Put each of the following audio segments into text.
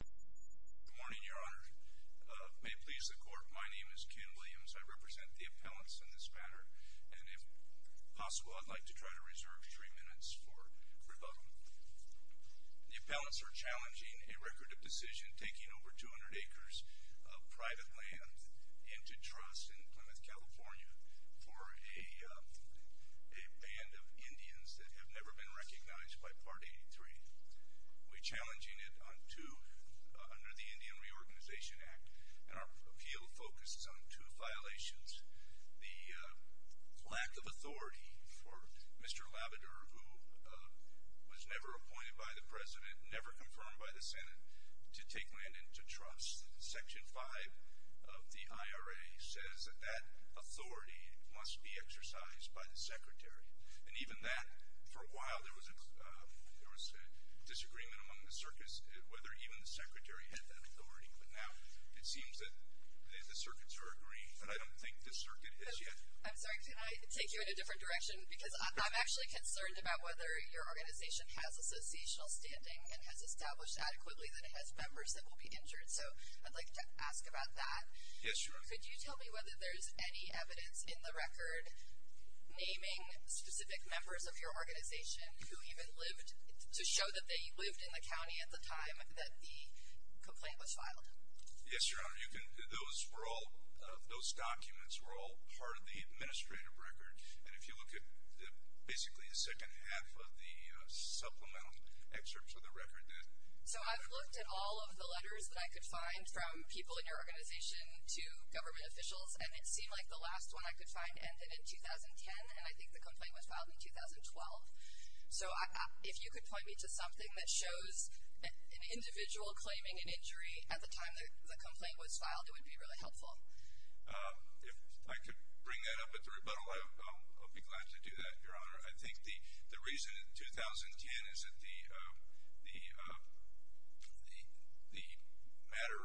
Good morning, your honor. May it please the court, my name is Ken Williams. I represent the appellants in this matter and if possible I'd like to try to reserve three minutes for rebuttal. The appellants are challenging a record of decision taking over 200 acres of private land into trust in Plymouth, California for a band of Indians that have never been recognized by Part 83. We're challenging it under the Indian Reorganization Act and our appeal focuses on two violations. The lack of authority for Mr. Labrador, who was never appointed by the president, never confirmed by the Senate, to take land into trust. Section 5 of the IRA says that that authority must be exercised by the Secretary and even that for a while there was a disagreement among the circuits whether even the Secretary had that authority, but now it seems that the circuits are agreed and I don't think the circuit has yet. I'm sorry, can I take you in a different direction because I'm actually concerned about whether your organization has associational standing and has established adequately that it has members that will be injured, so I'd like to ask about that. Yes, your honor. Could you tell me whether there's any evidence in the record naming specific members of your organization who even lived to show that they lived in the county at the time that the complaint was filed? Yes, your honor. Those were all, those documents were all part of the administrative record and if you look at basically the second half of the supplemental excerpts of the record. So I've looked at all of the letters that I could find from people in your organization to government officials and it seemed like the last one I could find ended in 2010 and I think the complaint was filed in 2012. So if you could point me to something that shows an individual claiming an injury at the time that the complaint was filed it would be really helpful. If I could bring that up at the rebuttal, I'll be glad to do that, your honor. I think the reason in 2010 is that the matter,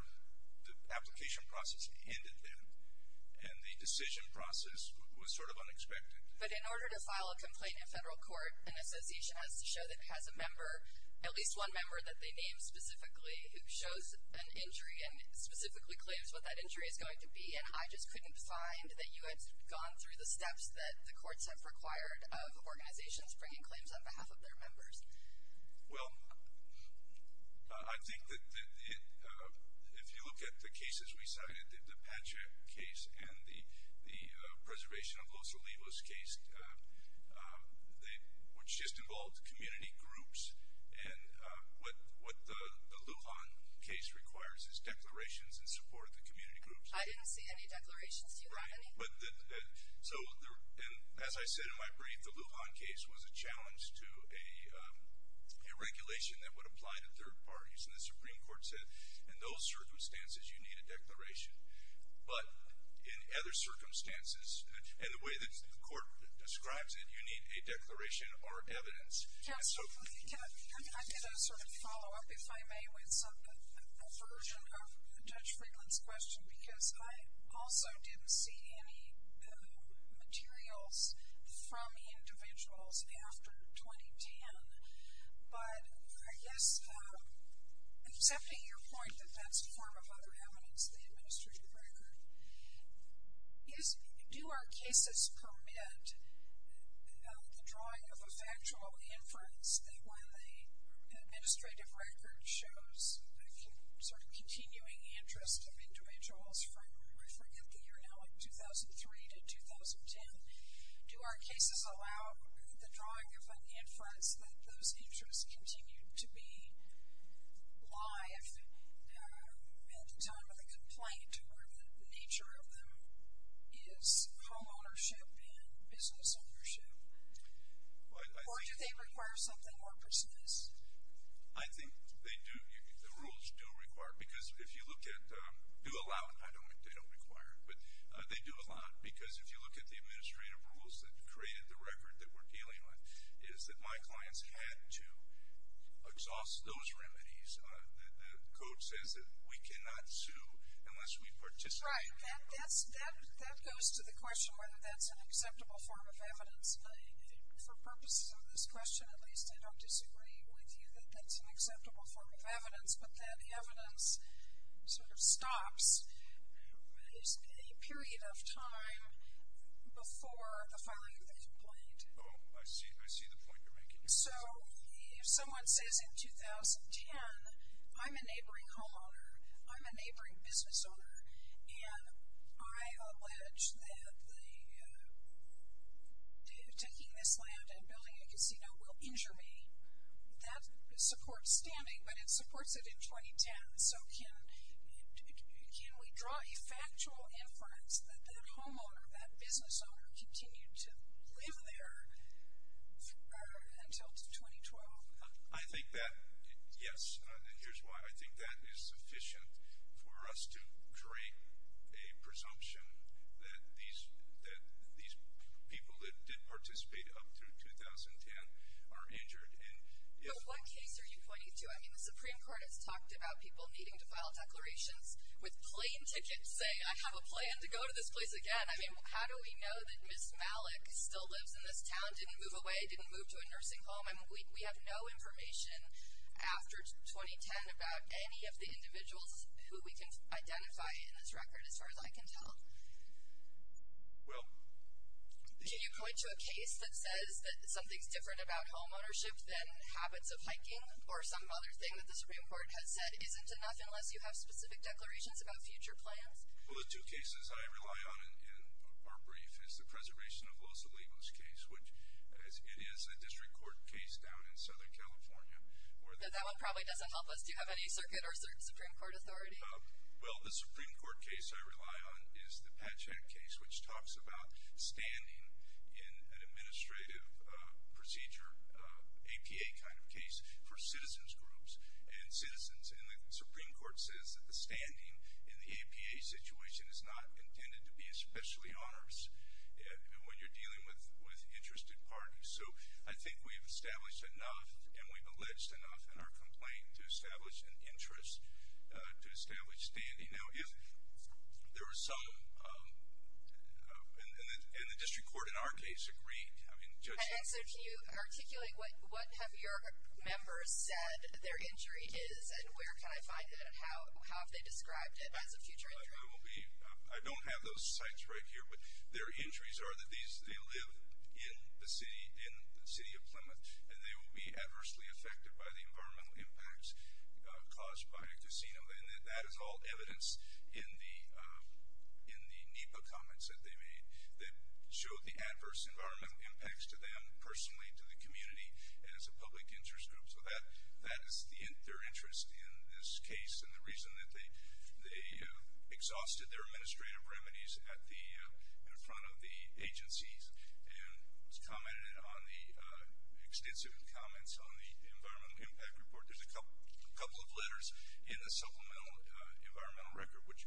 the application process ended then and the decision process was sort of unexpected. But in order to file a complaint in federal court, an association has to show that it has a member, at least one member that they named specifically, who shows an injury and specifically claims what that injury is going to be and I just couldn't find that you had gone through the steps that the courts have required of organizations bringing claims on behalf of their members. Well, I think that if you look at the cases we cited, the Pacha case and the preservation of Los Olivos case, which just involves community groups and what the Lujan case requires is declarations and support of the community groups. I didn't see any declarations, do you have any? Right, but so as I said in my brief, the Lujan case was a challenge to a regulation that would apply to third parties and the Supreme Court said in some circumstances you need a declaration, but in other circumstances and the way that the court describes it, you need a declaration or evidence. Yes, I did a sort of follow-up, if I may, with a version of Judge Friedland's question because I also didn't see any materials from individuals after 2010, but I guess accepting your point that that's part of other evidence, the administrative record, do our cases permit the drawing of a factual inference that when the administrative record shows a sort of continuing interest of individuals from I forget the year now, like 2003 to 2010, do our cases allow the drawing of an lie if it's done with a complaint where the nature of them is home ownership and business ownership, or do they require something more precise? I think they do, the rules do require, because if you look at, do allow, I don't think they don't require, but they do allow because if you look at the administrative rules that created the record that we're dealing with, is that my clients had to exhaust those remedies. The code says that we cannot sue unless we participate. Right, that goes to the question whether that's an acceptable form of evidence. For purposes of this question, at least, I don't disagree with you that that's an acceptable form of evidence, but that evidence sort of stops a period of time before the filing of the complaint. Oh, I see, I see the point you're making. So, if someone says in 2010, I'm a neighboring homeowner, I'm a neighboring business owner, and I allege that taking this land and building a casino will injure me, that supports standing, but it supports it in 2010, so can we draw a factual inference that that homeowner, that business owner, continued to live there, until 2012? I think that, yes, and here's why, I think that is sufficient for us to create a presumption that these people that did participate up through 2010 are injured. But what case are you pointing to? I mean, the Supreme Court has talked about people needing to file declarations with plain tickets saying, I have a plan to go to this place again. I mean, how do we know that Ms. Malik still lives in this town? Didn't move away? Didn't move to a nursing home? I mean, we have no information after 2010 about any of the individuals who we can identify in this record, as far as I can tell. Well, the... Can you point to a case that says that something's different about homeownership than habits of hiking, or some other thing that the Supreme Court has said isn't enough unless you have specific declarations about future plans? Well, the two cases I rely on in our brief is the Preservation of Los Olivos case, which it is a district court case down in Southern California. That one probably doesn't help us. Do you have any circuit or Supreme Court authority? Well, the Supreme Court case I rely on is the Patchak case, which talks about standing in an administrative procedure, APA kind of case, for citizens groups. And citizens in the Supreme Court says that the standing in the APA situation is not intended to be especially onerous when you're dealing with interested parties. So, I think we've established enough and we've alleged enough in our complaint to establish an interest to establish standing. Now, if there were some... and the district court in our case agreed. I mean, Judge... And so, can you articulate what have your members said their injury is, and where can I find it, and how have they described it as a future injury? I don't have those sites right here, but their injuries are that they live in the city of Plymouth, and they will be adversely affected by the environmental impacts caused by a casino. And that is all evidence in the NEPA comments that they made that showed the adverse environmental impacts to them personally, to the community, and as a public interest group. So, that is their interest in this case, and the reason that they exhausted their administrative remedies in front of the agencies, and commented on the extensive comments on the environmental impact report. There's a couple of letters in the supplemental environmental record which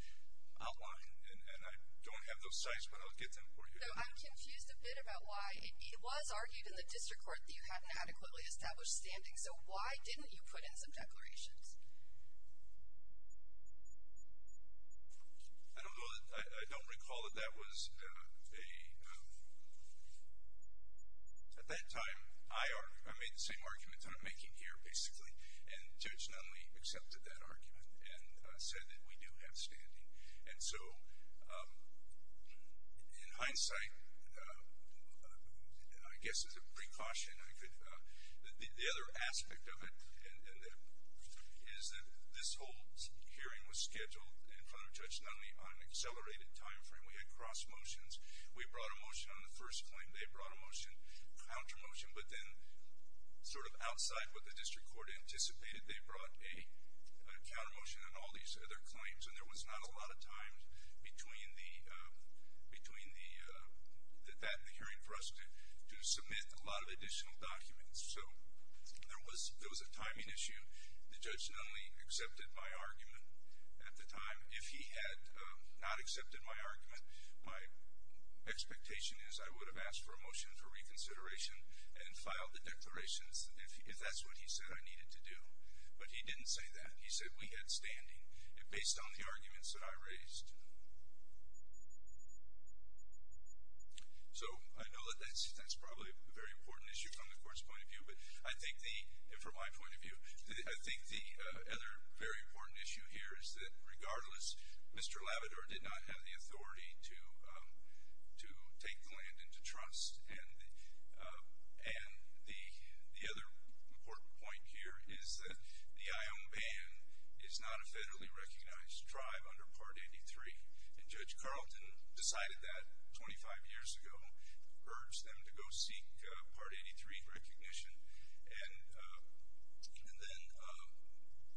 outline... and I don't have those sites, but I'll get them for you. I'm confused a bit about why... it was argued in the district court that you hadn't adequately established standing, so why didn't you put in some declarations? I don't recall that that was a... At that time, I made the same arguments I'm making here, basically, and Judge Nunley accepted that argument, and said that we do have standing. And so, in hindsight, I guess as a precaution, I could... The other aspect of it is that this whole hearing was scheduled in front of Judge Nunley on an accelerated time frame. We had cross motions. We brought a motion on the first claim. They brought a motion, counter motion, but then sort of outside what the district court anticipated, they brought a counter motion on all these other claims. And there was not a lot of time between that and the hearing for us to submit a lot of additional documents. So, there was a timing issue. The judge Nunley accepted my argument at the time. If he had not accepted my argument, my expectation is I would have asked for a motion for reconsideration and filed the declarations if that's what he said I needed to do. But he didn't say that. He said we had standing. It based on the arguments that I raised. So, I know that that's probably a very important issue from the court's point of view, but I think the... And from my point of view, I think the other very important issue here is that, regardless, Mr. Labrador did not have the authority to take the land into trust. And the other important point here is that the Ion Band is not a federally recognized tribe under Part 83. And Judge Carlton decided that 25 years ago, urged them to go seek Part 83 recognition. And then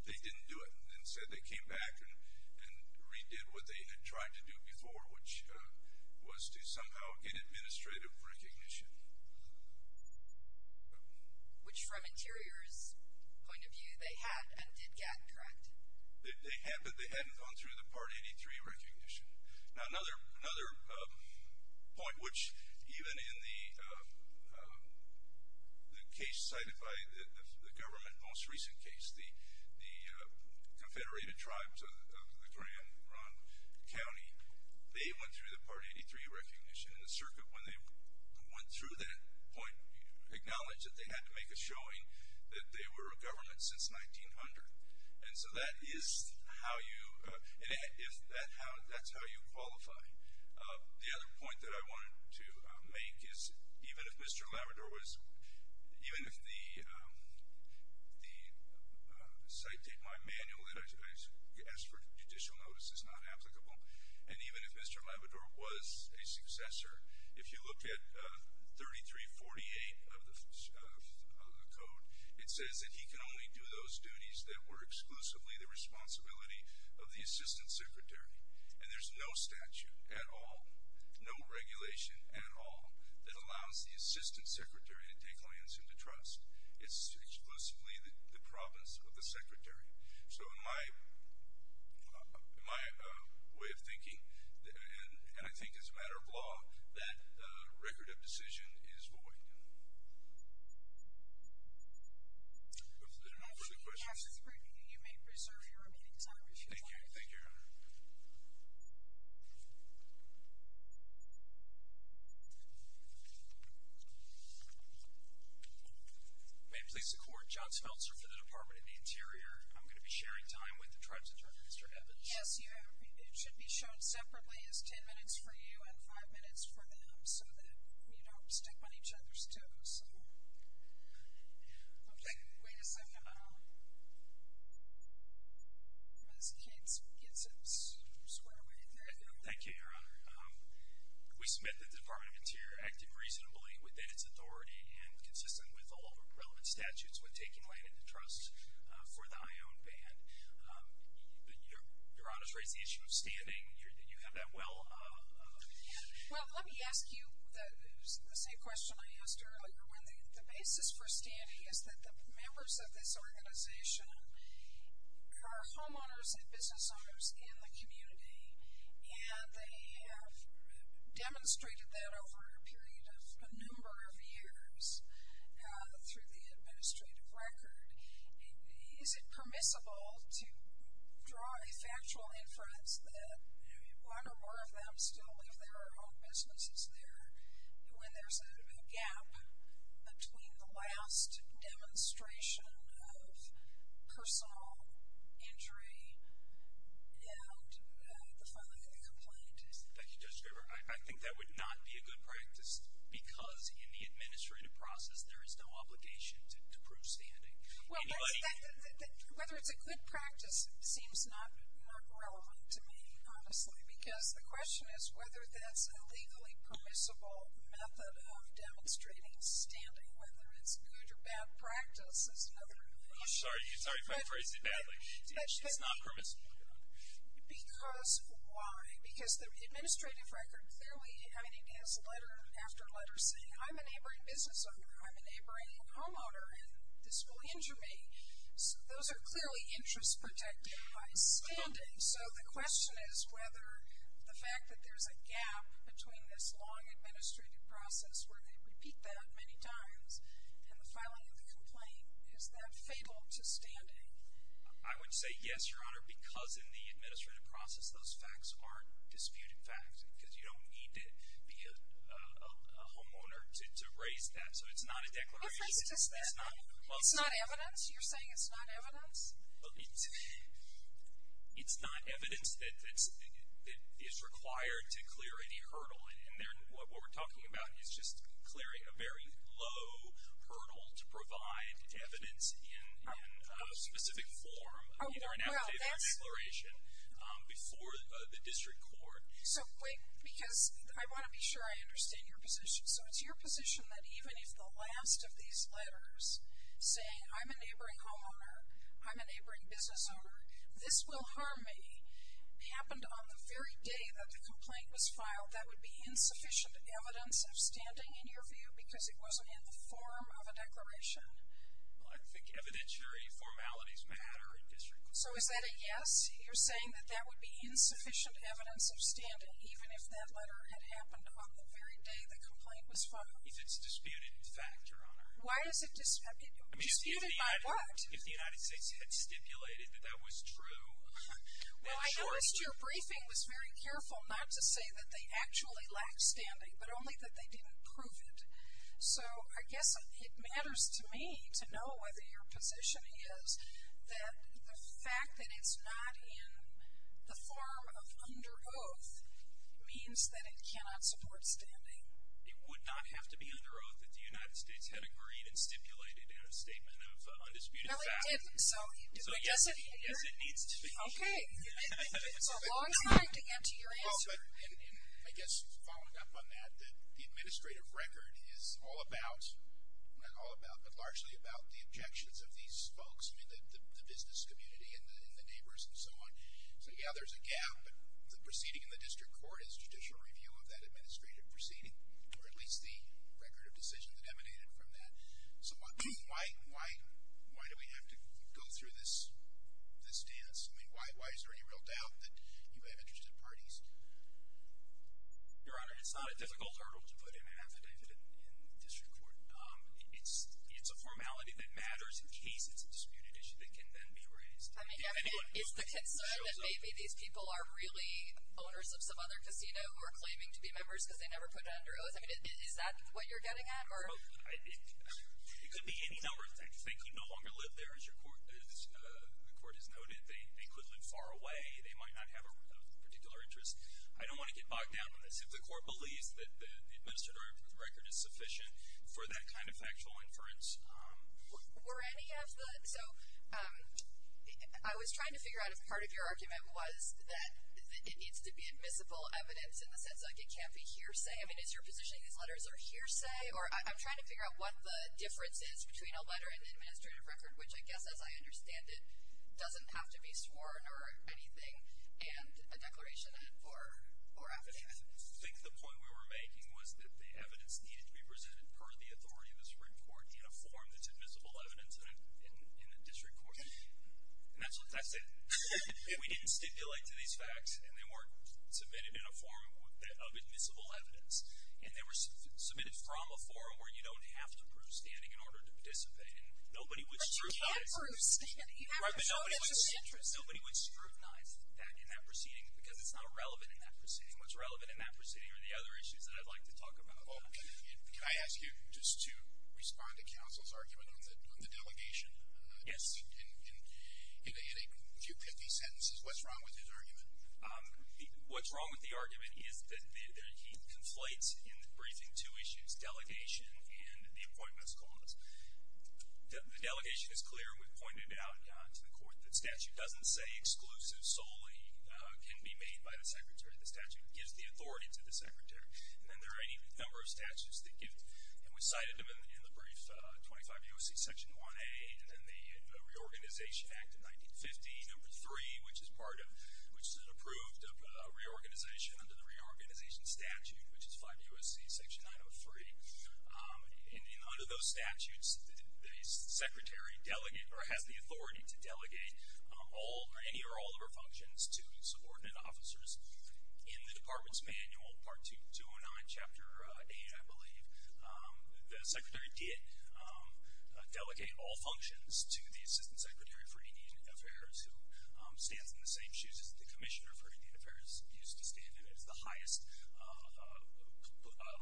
they didn't do it and said they came back and redid what they had tried to do before, which was to somehow get administrative recognition. Which, from Interior's point of view, they had and did get, correct? They had, but they hadn't gone through the Part 83 recognition. Now, another point, which even in the case cited by the government, most recent case, the Confederated Tribes of the Grand Ronde County, they went through the Part 83 recognition. And the circuit, when they went through that point, acknowledged that they had to make a showing that they were a government since 1900. And so that is how you, that's how you qualify. The other point that I wanted to make is, even if Mr. Labrador was, even if the manual that I asked for judicial notice is not applicable, and even if Mr. Labrador was a successor, if you look at 3348 of the code, it says that he can only do those duties that were exclusively the responsibility of the Assistant Secretary. And there's no statute at all, no regulation at all, that allows the Assistant Secretary to take lands into trust. It's exclusively the province of the Secretary. So in my way of thinking, and I think it's a matter of law, that record of decision is void. If there are no further questions. You may preserve your remaining time if you'd like. Thank you, thank you. Thank you. May it please the court, John Smeltzer for the Department of the Interior. I'm going to be sharing time with the tribe's attorney, Mr. Evans. Yes, you are. It should be shown separately as ten minutes for you and five minutes for them so that you don't stick on each other's toes. Okay, wait a second. Ms. Cates gets it squarely. Thank you, Your Honor. We submit that the Department of the Interior acted reasonably within its authority and consistent with all relevant statutes with taking land into trust for the Ione Band. But Your Honor's raised the issue of standing. Do you have that well? Well, let me ask you the same question I asked earlier. The basis for standing is that the members of this organization are homeowners and business owners in the community, and they have demonstrated that over a period of a number of years through the administrative record. Is it permissible to draw a factual inference that one or more of them still live there or own businesses there when there's a gap between the last demonstration of personal injury and the filing of a complaint? Thank you, Judge Graber. I think that would not be a good practice because in the administrative process there is no obligation to prove standing. Whether it's a good practice seems not relevant to me, honestly, because the question is whether that's a legally permissible method of demonstrating standing, whether it's good or bad practice is another issue. I'm sorry if I phrased it badly. It's not permissible, Your Honor. Because why? Because the administrative record clearly has letter after letter saying, I'm a neighboring business owner, I'm a neighboring homeowner, and this will injure me. Those are clearly interests protected by standing. So the question is whether the fact that there's a gap between this long administrative process where they repeat that many times and the filing of the complaint, is that fatal to standing? I would say yes, Your Honor, because in the administrative process those facts aren't disputed facts because you don't need to be a homeowner to raise that. So it's not a declaration. It's not evidence? You're saying it's not evidence? It's not evidence that is required to clear any hurdle. And what we're talking about is just clearing a very low hurdle to provide evidence in specific form, either an affidavit or declaration, before the district court. So wait, because I want to be sure I understand your position. So it's your position that even if the last of these letters saying, I'm a neighboring homeowner, I'm a neighboring business owner, this will harm me, if it happened on the very day that the complaint was filed, that would be insufficient evidence of standing, in your view, because it wasn't in the form of a declaration? Well, I think evidentiary formalities matter in district courts. So is that a yes? You're saying that that would be insufficient evidence of standing, even if that letter had happened on the very day the complaint was filed? If it's a disputed fact, Your Honor. Disputed by what? If the United States had stipulated that that was true. Well, I noticed your briefing was very careful not to say that they actually lacked standing, but only that they didn't prove it. So I guess it matters to me to know whether your position is that the fact that it's not in the form of under oath means that it cannot support standing. It would not have to be under oath if the United States had agreed and stipulated in a statement of undisputed fact. No, it didn't. So yes, it needs to be. Okay. It's a long time to get to your answer. I guess following up on that, the administrative record is all about, not all about, but largely about the objections of these folks, the business community and the neighbors and so on. So, yeah, there's a gap, but the proceeding in the district court is judicial review of that administrative proceeding, or at least the record of decision that emanated from that. So why do we have to go through this dance? I mean, why is there any real doubt that you have interested parties? Your Honor, it's not a difficult hurdle to put in and have it in the district court. It's a formality that matters in case it's a disputed issue that can then be raised. I mean, is the concern that maybe these people are really owners of some other casino who are claiming to be members because they never put it under oath? I mean, is that what you're getting at? It could be any number of things. They can no longer live there, as the court has noted. They could live far away. They might not have a particular interest. I don't want to get bogged down in this. If the court believes that the administrative record is sufficient for that kind of factual inference. Were any of the – so I was trying to figure out if part of your argument was that it needs to be admissible evidence in the sense that it can't be hearsay. I mean, is your positioning these letters are hearsay? Or I'm trying to figure out what the difference is between a letter and an administrative record, which I guess, as I understand it, doesn't have to be sworn or anything and a declaration or affidavit. I think the point we were making was that the evidence needed to be presented per the authority of the Supreme Court in a form that's admissible evidence in the district court. And that's it. We didn't stipulate to these facts, and they weren't submitted in a form of admissible evidence. And they were submitted from a forum where you don't have to prove standing in order to participate. But you can't prove standing. You have to show that there's an interest. Right, but nobody would scrutinize that in that proceeding because it's not relevant in that proceeding. What's relevant in that proceeding are the other issues that I'd like to talk about. Can I ask you just to respond to counsel's argument on the delegation? Yes. In a few 50 sentences, what's wrong with his argument? What's wrong with the argument is that he conflates in the briefing two issues, delegation and the appointments clause. The delegation is clear, and we've pointed it out to the court, that statute doesn't say exclusives solely can be made by the secretary. The statute gives the authority to the secretary. And then there are any number of statutes that give. And we cited them in the brief 25 U.S.C. Section 1A and then the Reorganization Act of 1950, number 3, which is an approved reorganization under the Reorganization Statute, which is 5 U.S.C. Section 903. Under those statutes, the secretary has the authority to delegate any or all of her functions to subordinate officers. In the Department's Manual, Part 209, Chapter 8, I believe, the secretary did delegate all functions to the Assistant Secretary for Indian Affairs, who stands in the same shoes as the Commissioner for Indian Affairs used to stand in. It's the highest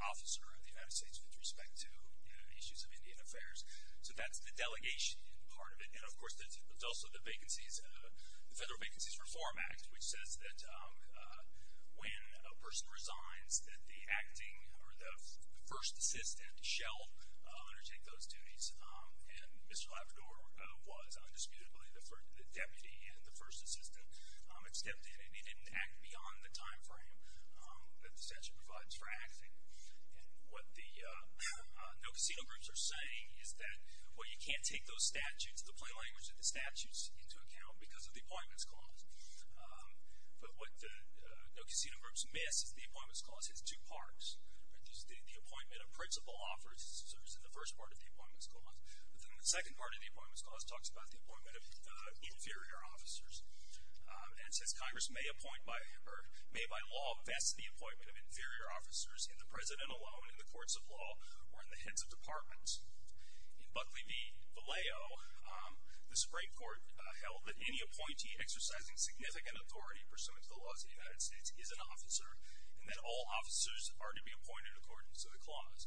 officer of the United States with respect to issues of Indian affairs. So that's the delegation part of it. And, of course, there's also the Federal Vacancies Reform Act, which says that when a person resigns, that the acting or the first assistant shall undertake those duties. And Mr. Labrador was undisputably the deputy and the first assistant. It stepped in, and he didn't act beyond the time frame that the statute provides for acting. And what the no casino groups are saying is that, well, you can't take those statutes, the plain language of the statutes, into account because of the Appointments Clause. But what the no casino groups miss is the Appointments Clause has two parts. It gives the appointment of principal officers in the first part of the Appointments Clause. But then the second part of the Appointments Clause talks about the appointment of inferior officers and says Congress may by law vest the appointment of inferior officers in the president alone, in the courts of law, or in the heads of departments. In Buckley v. Vallejo, the Supreme Court held that any appointee exercising significant authority pursuant to the laws of the United States is an officer and that all officers are to be appointed according to the clause.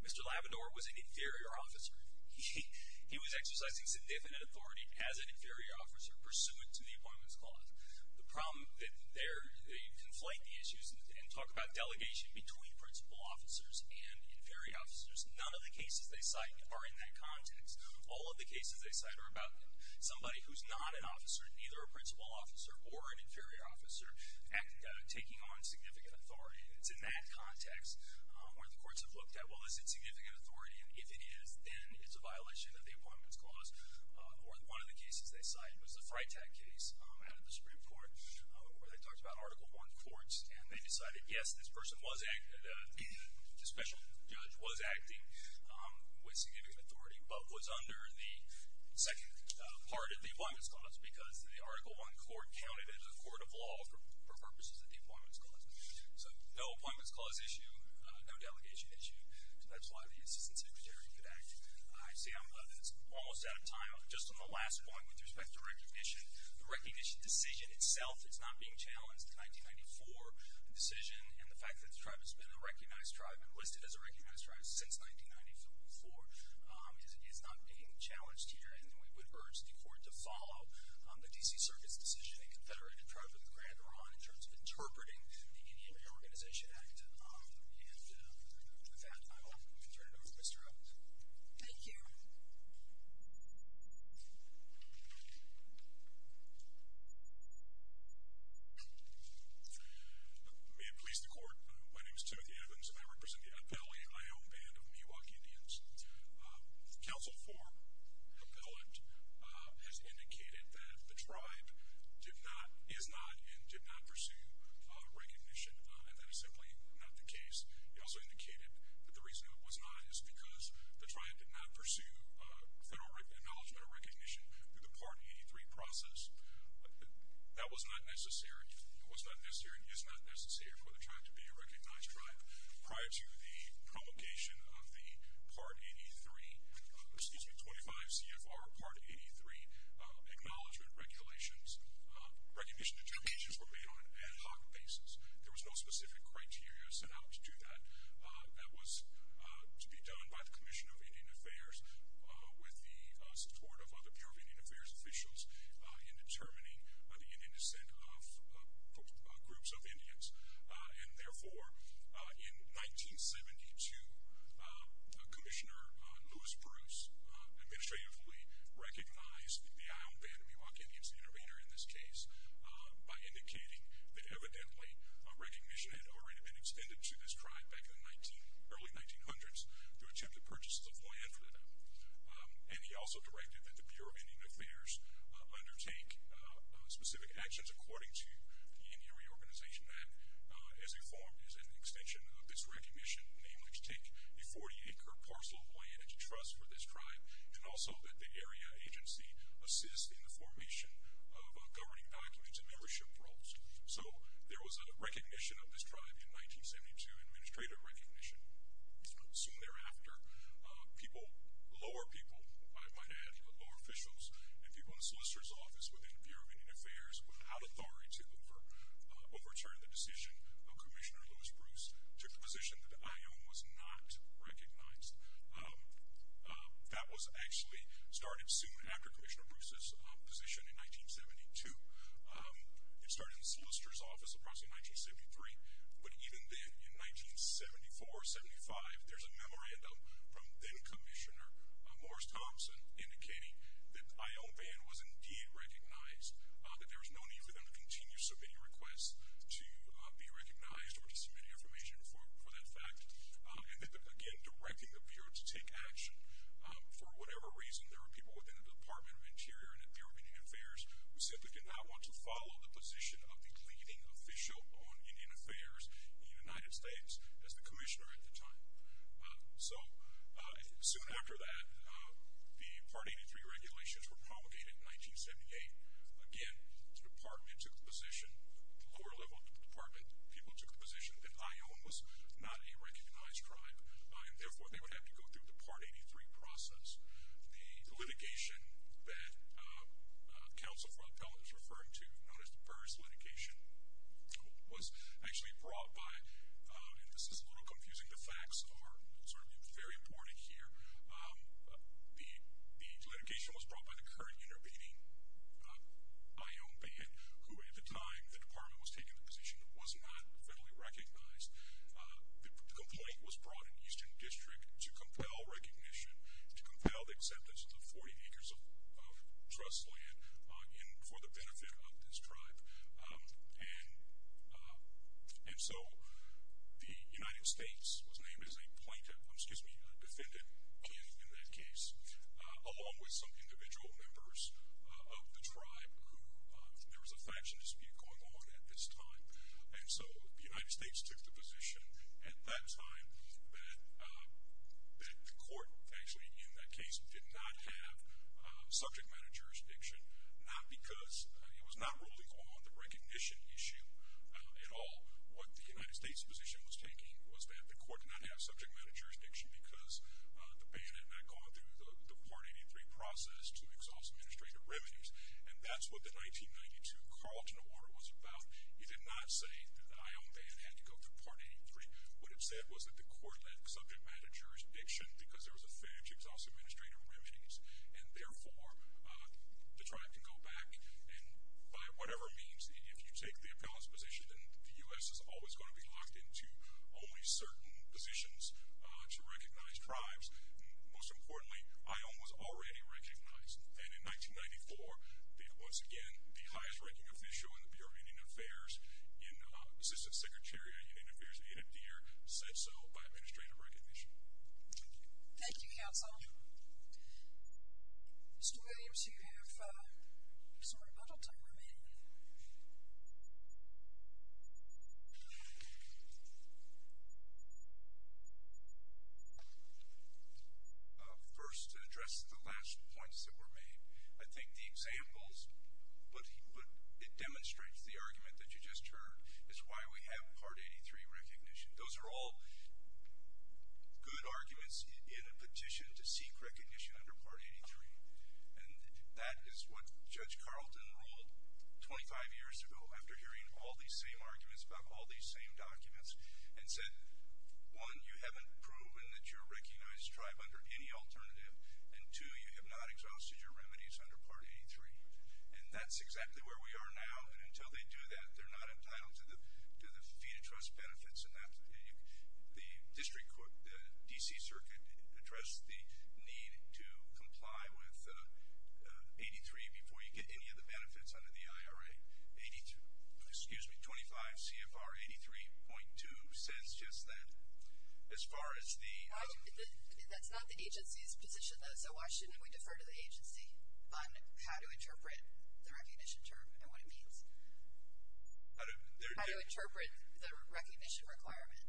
Mr. Labrador was an inferior officer. He was exercising significant authority as an inferior officer pursuant to the Appointments Clause. The problem there, they conflate the issues and talk about delegation between principal officers and inferior officers. None of the cases they cite are in that context. All of the cases they cite are about somebody who's not an officer, neither a principal officer or an inferior officer taking on significant authority. It's in that context where the courts have looked at, well, is it significant authority? And if it is, then it's a violation of the Appointments Clause. Or one of the cases they cite was the Freitag case out of the Supreme Court where they talked about Article I courts. And they decided, yes, this person was acting, this special judge was acting with significant authority, but was under the second part of the Appointments Clause because the Article I court counted it as a court of law for purposes of the Appointments Clause. So no Appointments Clause issue, no delegation issue. So that's why the Assistant Secretary could act. I see I'm almost out of time. Just on the last point with respect to recognition, the recognition decision itself is not being challenged. In 1994, the decision and the fact that the tribe has been a recognized tribe and listed as a recognized tribe since 1994 is not being challenged here. And we would urge the court to follow the D.C. Circuit's decision and confederate a tribe with a grander on in terms of interpreting the Indian Reorganization Act. And with that, I will turn it over to Mr. Evans. Thank you. May it please the Court. My name is Timothy Evans, and I represent the Appellee Iown Band of Miwok Indians. Council 4 appellate has indicated that the tribe did not, is not, and did not pursue recognition, and that is simply not the case. It also indicated that the reason it was not is because the tribe did not pursue federal acknowledgement or recognition through the Part 83 process. That was not necessary, was not necessary, and is not necessary for the tribe to be a recognized tribe. Prior to the promulgation of the Part 83, excuse me, 25 CFR Part 83 acknowledgement regulations, recognition determinations were made on an ad hoc basis. There was no specific criteria set out to do that. That was to be done by the Commission of Indian Affairs with the support of other Bureau of Indian Affairs officials in determining the Indian descent of groups of Indians. And therefore, in 1972, Commissioner Lewis Bruce administratively recognized the Iown Band of Miwok Indians, the innovator in this case, by indicating that evidently recognition had already been extended to this tribe back in the early 1900s through attempted purchases of land for that. And he also directed that the Bureau of Indian Affairs undertake specific actions according to the Indian Reorganization Act as informed as an extension of this recognition, namely to take a 40-acre parcel of land into trust for this tribe, and also that the area agency assist in the formation of governing documents and membership roles. So there was a recognition of this tribe in 1972, administrative recognition. Soon thereafter, people, lower people, I might add, lower officials, and people in the Solicitor's Office within the Bureau of Indian Affairs, without authority to overturn the decision of Commissioner Lewis Bruce, took the position that the Iown was not recognized. That was actually started soon after Commissioner Bruce's position in 1972. It started in the Solicitor's Office approximately in 1973, but even then, in 1974-75, there's a memorandum from then-Commissioner Morris Thompson indicating that Iown Band was indeed recognized, that there was no need for them to continue submitting requests to be recognized or to submit information for that fact, and that, again, directing the Bureau to take action. For whatever reason, there were people within the Department of Interior and the Bureau of Indian Affairs who simply did not want to follow the position of the leading official on Indian Affairs in the United States as the commissioner at the time. So soon after that, the Part 83 regulations were promulgated in 1978. Again, the Department took the position, the lower level of the Department, people took the position that Iown was not a recognized tribe, and therefore they would have to go through the Part 83 process. The litigation that Counsel for the Appellant is referring to, known as the Burrs litigation, was actually brought by, and this is a little confusing, the facts are sort of very important here, the litigation was brought by the current intervening Iown Band, who at the time the Department was taking the position was not federally recognized. The complaint was brought in Eastern District to compel recognition, to compel the acceptance of the 40 acres of trust land for the benefit of this tribe. And so the United States was named as a plaintiff, excuse me, a defendant in that case, along with some individual members of the tribe who, there was a faction dispute going on at this time, and so the United States took the position at that time that the court actually in that case did not have subject matter jurisdiction, not because it was not ruling on the recognition issue at all. What the United States position was taking was that the court did not have subject matter jurisdiction because the Band had not gone through the Part 83 process to exhaust administrative remedies, and that's what the 1992 Carlton Award was about. It did not say that the Iown Band had to go through Part 83. What it said was that the court had subject matter jurisdiction because there was a failure to exhaust administrative remedies, and therefore the tribe can go back, and by whatever means, if you take the appellant's position then the U.S. is always going to be locked into only certain positions to recognize tribes. Most importantly, Iown was already recognized, and in 1994, once again, the highest-ranking official in the Bureau of Indian Affairs, Assistant Secretary of Indian Affairs, Anna Deer, said so by administrative recognition. Thank you. Thank you, counsel. Mr. Williams, you have some rebuttal time remaining. Thank you. First, to address the last points that were made, I think the examples it demonstrates, the argument that you just heard, is why we have Part 83 recognition. Those are all good arguments in a petition to seek recognition under Part 83, and that is what Judge Carlton ruled 25 years ago, after hearing all these same arguments about all these same documents, and said, one, you haven't proven that you're a recognized tribe under any alternative, and two, you have not exhausted your remedies under Part 83. And that's exactly where we are now, and until they do that, they're not entitled to the fee-to-trust benefits. The district court, the D.C. Circuit, addressed the need to comply with 83 before you get any of the benefits under the IRA. Excuse me, 25 CFR 83.2 says just that. As far as the – That's not the agency's position, though, so why shouldn't we defer to the agency on how to interpret the recognition term and what it means? How to – How to interpret the recognition requirement.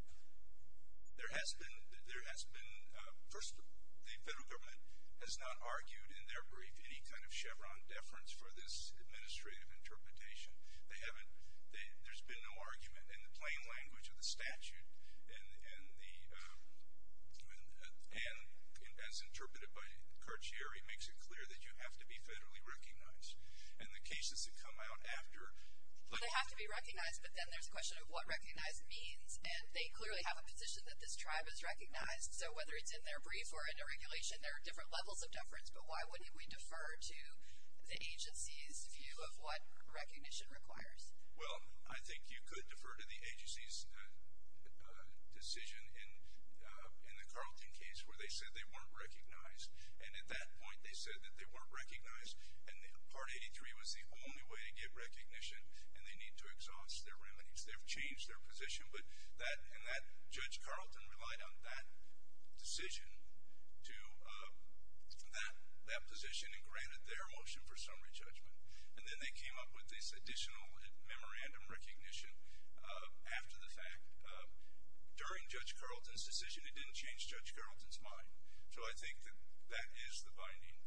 There has been – there has been – first, the federal government has not argued in their brief any kind of Chevron deference for this administrative interpretation. They haven't – there's been no argument. In the plain language of the statute, and the – and as interpreted by Courtier, it makes it clear that you have to be federally recognized. And the cases that come out after – But they have to be recognized, but then there's the question of what recognized means, and they clearly have a position that this tribe is recognized, so whether it's in their brief or in a regulation, there are different levels of deference, but why wouldn't we defer to the agency's view of what recognition requires? Well, I think you could defer to the agency's decision in the Carlton case where they said they weren't recognized. And at that point, they said that they weren't recognized, and Part 83 was the only way to get recognition, and they need to exhaust their remedies. They've changed their position, but that – and that – Judge Carlton relied on that decision to – that position and granted their motion for summary judgment. And then they came up with this additional memorandum recognition after the fact. During Judge Carlton's decision, it didn't change Judge Carlton's mind. So I think that that is the binding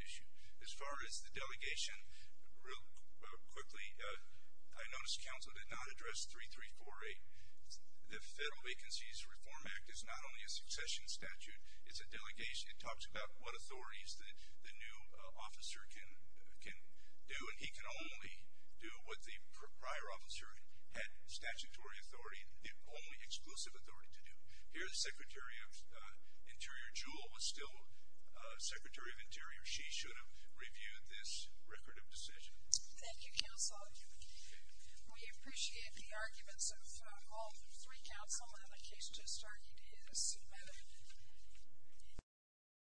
issue. As far as the delegation, real quickly, I noticed counsel did not address 3348. The Federal Vacancies Reform Act is not only a succession statute. It's a delegation. It talks about what authorities the new officer can do, and he can only do what the prior officer had statutory authority, the only exclusive authority to do. Here, the Secretary of Interior, Jewell, was still Secretary of Interior. She should have reviewed this record of decision. Thank you, counsel. We appreciate the arguments of all three counsel in the case just argued in this amendment.